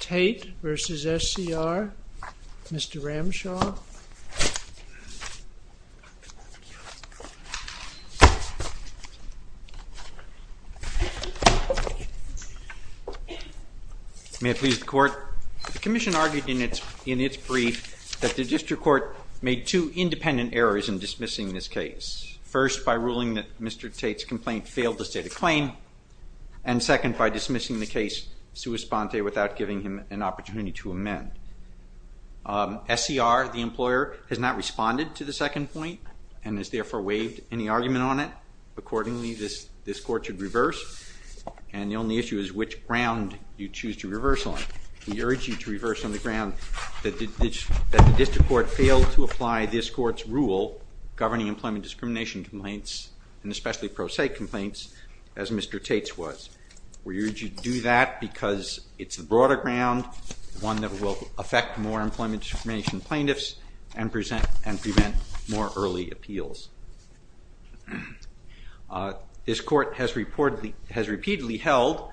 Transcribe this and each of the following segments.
Tate v. SCR, Mr. Ramshaw. May it please the Court. The Commission argued in its brief that the District Court made two independent errors in dismissing this case. First, by ruling that Mr. Tate's complaint failed to state a claim. And second, by dismissing the case sua sponte without giving him an opportunity to amend. SCR, the employer, has not responded to the second point and has therefore waived any argument on it. Accordingly, this Court should reverse. And the only issue is which ground you choose to reverse on. We urge you to reverse on the ground that the District Court failed to apply this Court's rule governing employment discrimination complaints, and especially pro se complaints, as Mr. Tate's was. We urge you to do that because it's the broader ground, one that will affect more employment discrimination plaintiffs and prevent more early appeals. This Court has repeatedly held,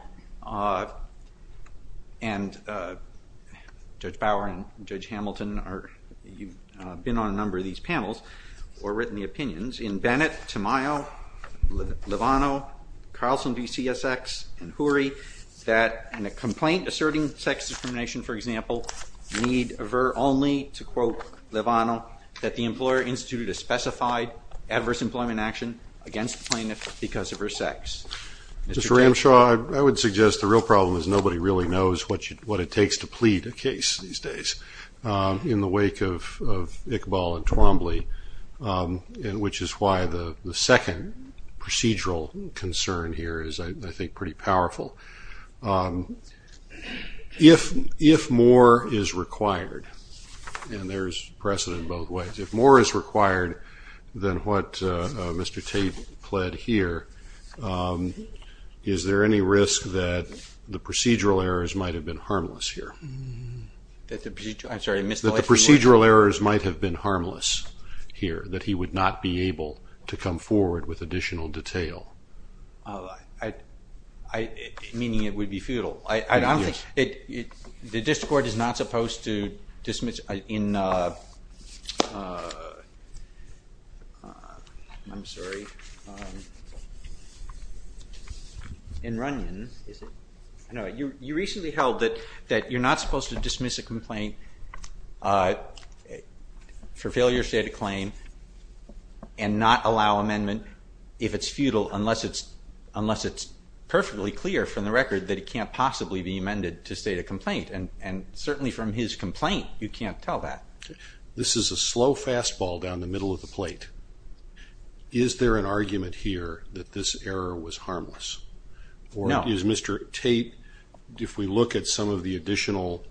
and Judge Bower and Judge Hamilton have been on a number of these panels, or written the opinions in Bennett, Tamayo, Livano, Carlson v. CSX, and Hoory, that in a complaint asserting sex discrimination, for example, need avert only, to quote Livano, that the employer instituted a specified adverse employment action against the plaintiff because of her sex. Mr. Ramshaw, I would suggest the real problem is nobody really knows what it takes to plead a case these days in the wake of Iqbal and Twombly, which is why the second procedural concern here is, I think, pretty powerful. If more is required, and there's precedent both ways, if more is required than what Mr. Tate pled here, is there any risk that the procedural errors might have been harmless here? That the procedural errors might have been harmless here, that he would not be able to come forward with additional detail? Meaning it would be futile? Yes. The district court is not supposed to dismiss, in Runyon, you recently held that you're not supposed to dismiss a complaint for failure to state a claim and not allow amendment if it's futile, unless it's perfectly clear from the record that it can't possibly be amended to state a complaint. And certainly from his complaint, you can't tell that. This is a slow fastball down the middle of the plate. Is there an argument here that this error was harmless? No. Is Mr. Tate, if we look at some of the additional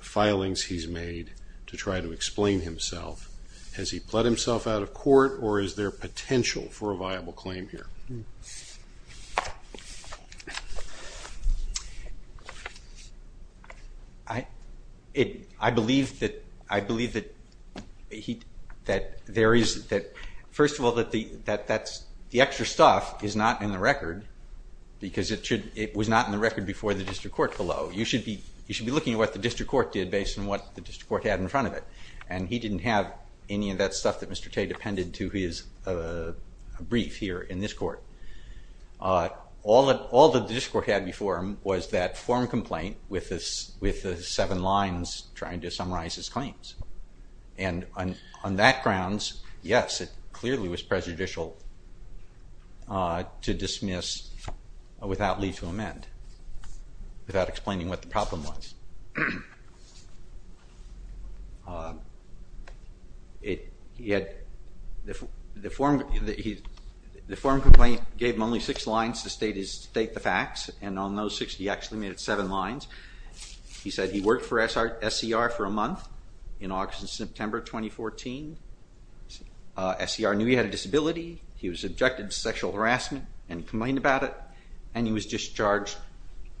filings he's made to try to explain himself, has he pled himself out of court, or is there potential for a viable claim here? I believe that, first of all, the extra stuff is not in the record, because it was not in the record before the district court below. You should be looking at what the district court did based on what the district court had in front of it. And he didn't have any of that stuff that Mr. Tate appended to his brief here in this court. All that the district court had before him was that form complaint with the seven lines trying to summarize his claims. And on that grounds, yes, it clearly was prejudicial to dismiss without leave to amend, without explaining what the problem was. The form complaint gave him only six lines to state the facts, and on those six he actually made it seven lines. He said he worked for SCR for a month in August and September 2014. SCR knew he had a disability. He was objected to sexual harassment and complained about it, and he was discharged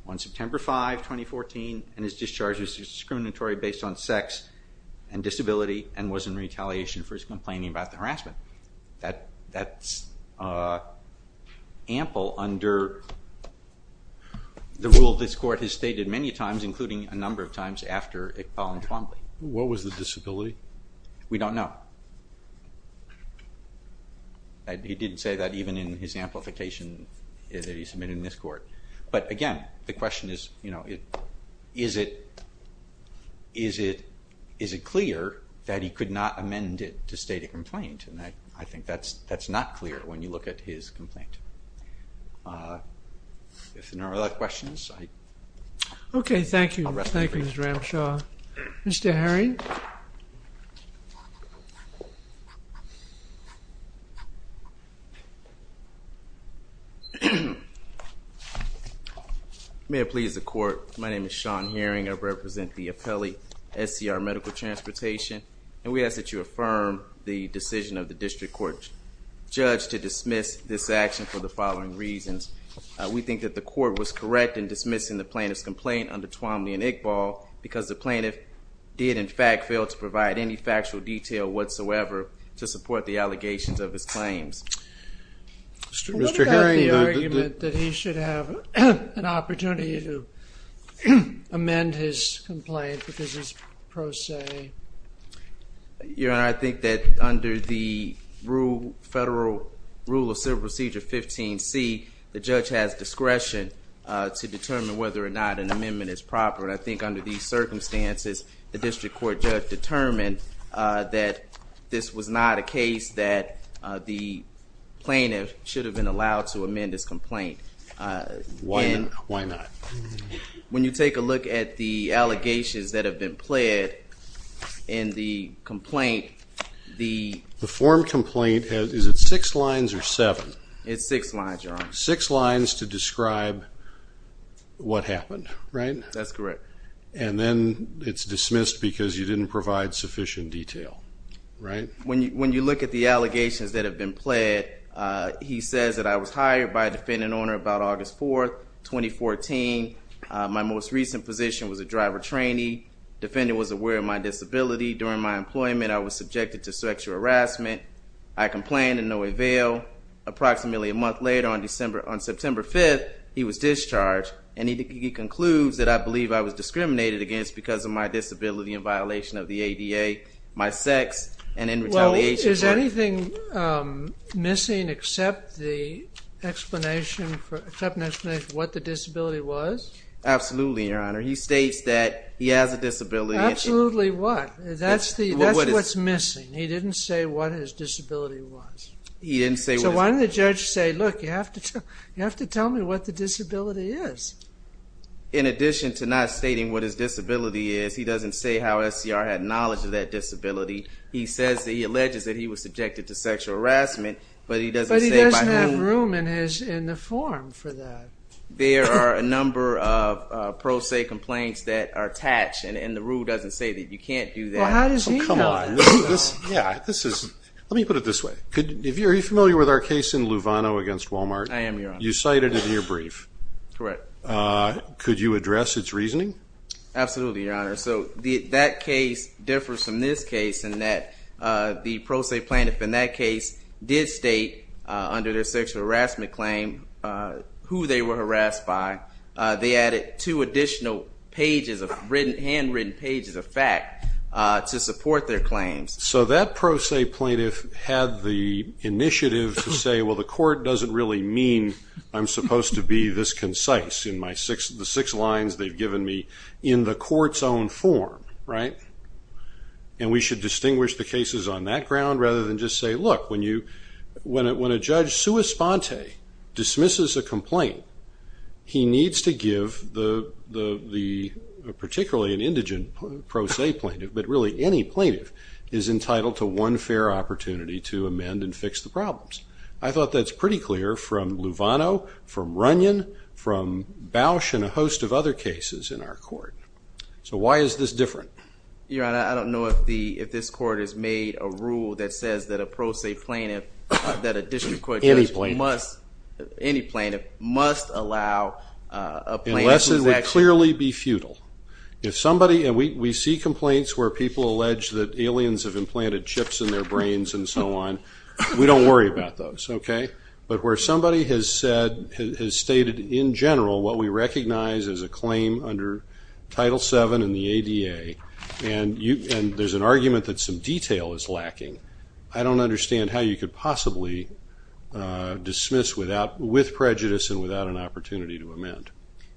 on September 5, 2014, and his discharge was discriminatory based on sex and disability and was in retaliation for his complaining about the harassment. That's ample under the rule this court has stated many times, including a number of times after Iqbal and Twombly. What was the disability? We don't know. He didn't say that even in his amplification that he submitted in this court. But, again, the question is, you know, is it clear that he could not amend it to state a complaint? And I think that's not clear when you look at his complaint. If there are no other questions, I'll wrap up here. Okay, thank you. Thank you, Mr. Ramshaw. Mr. Herring? May it please the court, my name is Sean Herring. I represent the appellate SCR Medical Transportation, and we ask that you affirm the decision of the district court judge to dismiss this action for the following reasons. We think that the court was correct in dismissing the plaintiff's complaint under Twombly and Iqbal, because the plaintiff did, in fact, fail to provide any factual detail whatsoever to support the allegations of his claims. What about the argument that he should have an opportunity to amend his complaint because it's pro se? Your Honor, I think that under the federal rule of civil procedure 15C, the judge has discretion to determine whether or not an amendment is proper. And I think under these circumstances, the district court judge determined that this was not a case that the plaintiff should have been allowed to amend his complaint. Why not? When you take a look at the allegations that have been pled in the complaint, the The form complaint, is it six lines or seven? It's six lines, Your Honor. Six lines to describe what happened, right? That's correct. And then it's dismissed because you didn't provide sufficient detail, right? When you look at the allegations that have been pled, he says that I was hired by a defendant on or about August 4th, 2014. My most recent position was a driver trainee. Defendant was aware of my disability. During my employment, I was subjected to sexual harassment. I complained in no avail. Approximately a month later, on September 5th, he was discharged, and he concludes that I believe I was discriminated against because of my disability in violation of the ADA, my sex, and in retaliation for it. Well, is anything missing except the explanation for what the disability was? Absolutely, Your Honor. He states that he has a disability. Absolutely what? That's what's missing. He didn't say what his disability was. He didn't say what his disability was. So why didn't the judge say, look, you have to tell me what the disability is? In addition to not stating what his disability is, he doesn't say how SCR had knowledge of that disability. He says that he alleges that he was subjected to sexual harassment, but he doesn't say by whom. But he doesn't have room in the form for that. There are a number of pro se complaints that are attached, and the rule doesn't say that you can't do that. Well, how does he know that? Come on. Let me put it this way. Are you familiar with our case in Luvano against Walmart? I am, Your Honor. You cited it in your brief. Correct. Could you address its reasoning? Absolutely, Your Honor. So that case differs from this case in that the pro se plaintiff in that case did state, under their sexual harassment claim, who they were harassed by. They added two additional pages of written, handwritten pages of fact to support their claims. So that pro se plaintiff had the initiative to say, well, the court doesn't really mean I'm supposed to be this concise in the six lines they've given me, in the court's own form, right? And we should distinguish the cases on that ground rather than just say, look, when a judge sua sponte dismisses a complaint, he needs to give the particularly an indigent pro se plaintiff, but really any plaintiff is entitled to one fair opportunity to amend and fix the problems. I thought that's pretty clear from Luvano, from Runyon, from Bausch, and a host of other cases in our court. So why is this different? Your Honor, I don't know if this court has made a rule that says that a pro se plaintiff, that a district court judge must, any plaintiff, must allow a plaintiff to exaction. Unless it would clearly be futile. If somebody, and we see complaints where people allege that aliens have implanted chips in their brains and so on, we don't worry about those, okay? But where somebody has said, has stated in general what we recognize as a claim under Title VII and the ADA, and there's an argument that some detail is lacking, I don't understand how you could possibly dismiss with prejudice and without an opportunity to amend.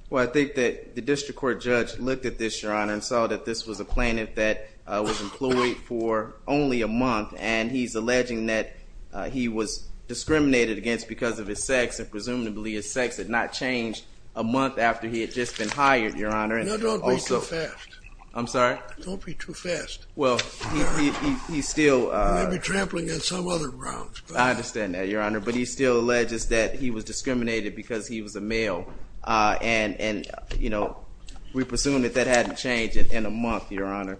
Well, I think that the district court judge looked at this, Your Honor, and saw that this was a plaintiff that was employed for only a month, and he's alleging that he was discriminated against because of his sex, and presumably his sex had not changed a month after he had just been hired, Your Honor. No, don't be too fast. I'm sorry? Don't be too fast. Well, he's still... You may be trampling on some other grounds. I understand that, Your Honor. But he still alleges that he was discriminated because he was a male. And, you know, we presume that that hadn't changed in a month, Your Honor.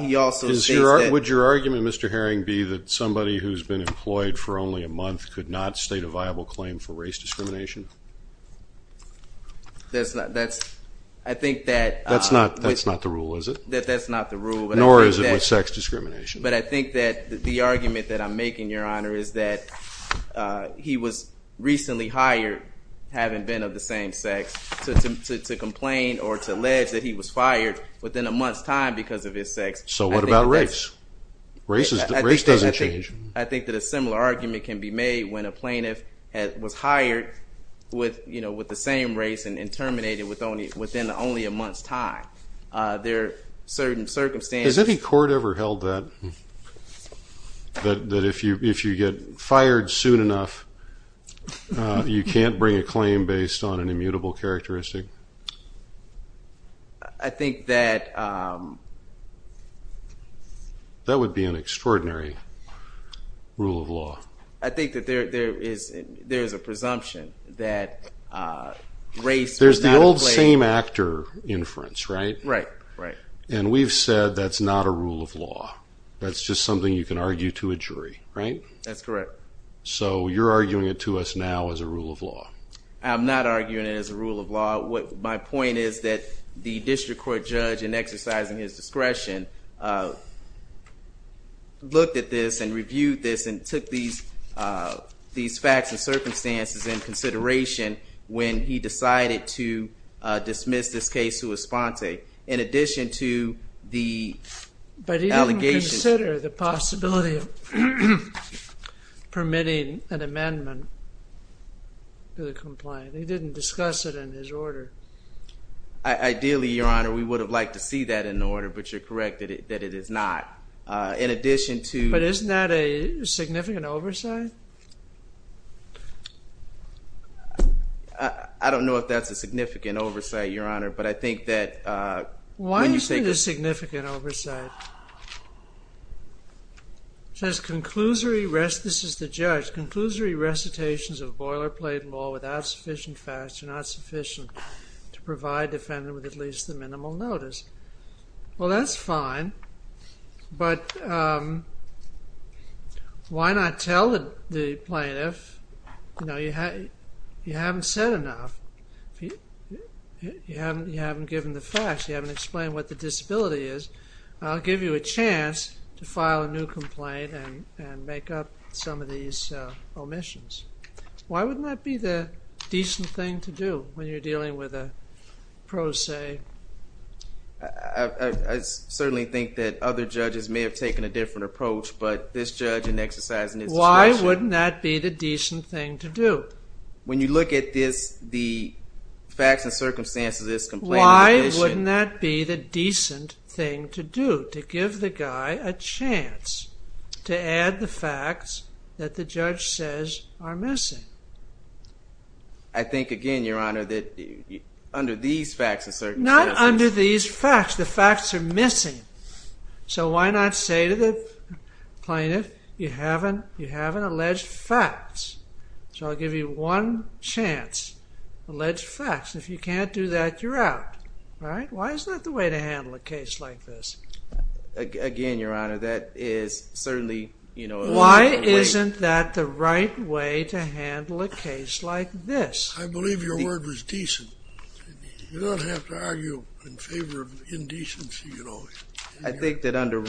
He also states that... Would your argument, Mr. Herring, be that somebody who's been employed for only a month could not state a viable claim for race discrimination? I think that... That's not the rule, is it? That's not the rule. Nor is it with sex discrimination. But I think that the argument that I'm making, Your Honor, is that he was recently hired, having been of the same sex, to complain or to allege that he was fired within a month's time because of his sex. So what about race? Race doesn't change. I think that a similar argument can be made when a plaintiff was hired with the same race and terminated within only a month's time. There are certain circumstances... Has any court ever held that, that if you get fired soon enough, you can't bring a claim based on an immutable characteristic? I think that... That would be an extraordinary rule of law. I think that there is a presumption that race was not a claim. There's the old same-actor inference, right? Right, right. And we've said that's not a rule of law. That's just something you can argue to a jury, right? That's correct. So you're arguing it to us now as a rule of law. I'm not arguing it as a rule of law. My point is that the district court judge, in exercising his discretion, looked at this and reviewed this and took these facts and circumstances into consideration when he decided to dismiss this case to Esponte. In addition to the allegations... But he didn't consider the possibility of permitting an amendment to the complaint. He didn't discuss it in his order. Ideally, Your Honor, we would have liked to see that in the order, but you're correct that it is not. In addition to... But isn't that a significant oversight? I don't know if that's a significant oversight, Your Honor, but I think that... Why do you think it's a significant oversight? It says, conclusory... This is the judge. Conclusory recitations of boilerplate law without sufficient facts are not sufficient to provide the defendant with at least the minimal notice. Well, that's fine, but why not tell the plaintiff? You know, you haven't said enough. You haven't given the facts. You haven't explained what the disability is. I'll give you a chance to file a new complaint and make up some of these omissions. Why wouldn't that be the decent thing to do when you're dealing with a pro se? I certainly think that other judges may have taken a different approach, but this judge in exercising his discretion... Why wouldn't that be the decent thing to do? When you look at the facts and circumstances of this complaint... Why wouldn't that be the decent thing to do, to give the guy a chance to add the facts that the judge says are missing? I think, again, Your Honor, that under these facts and circumstances... Not under these facts. The facts are missing. So why not say to the plaintiff, you haven't alleged facts? So I'll give you one chance. Alleged facts. If you can't do that, you're out. Why is that the way to handle a case like this? Again, Your Honor, that is certainly... Why isn't that the right way to handle a case like this? I believe your word was decent. You don't have to argue in favor of indecency. I think that under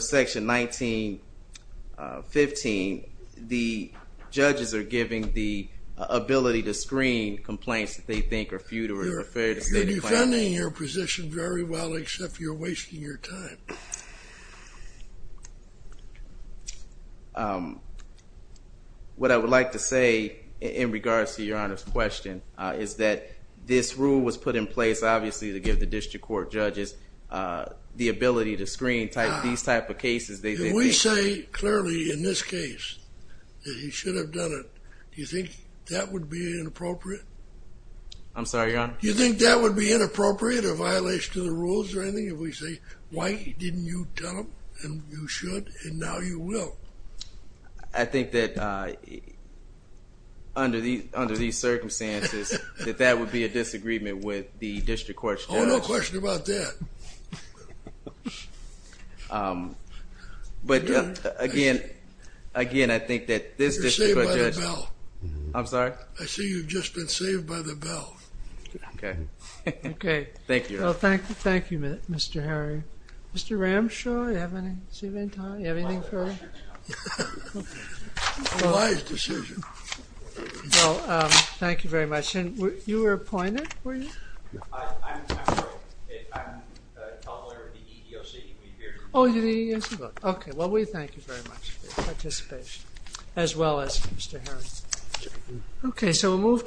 Section 1915, the judges are given the ability to screen complaints that they think are futile or unfair to the plaintiff. You're defending your position very well, except you're wasting your time. What I would like to say in regards to Your Honor's question is that this rule was put in place, obviously, to give the district court judges the ability to screen these type of cases. Did we say clearly in this case that he should have done it? Do you think that would be inappropriate? I'm sorry, Your Honor? Do you think that would be inappropriate, a violation to the rules or anything? If we say, why didn't you tell him and you should and now you will? I think that under these circumstances, that that would be a disagreement with the district court judges. Oh, no question about that. But again, I think that this district court judge. You're saved by the bell. I'm sorry? I see you've just been saved by the bell. OK. OK. Thank you, Your Honor. Thank you, Mr. Harry. Mr. Ramshaw, do you have any time? Do you have anything further? Wise decision. Thank you very much. You were appointed? Were you? I'm a public lawyer with the EEOC. Oh, you're the EEOC? OK. Well, we thank you very much for your participation, as well as Mr. Harry. OK. So we'll move to our next witness.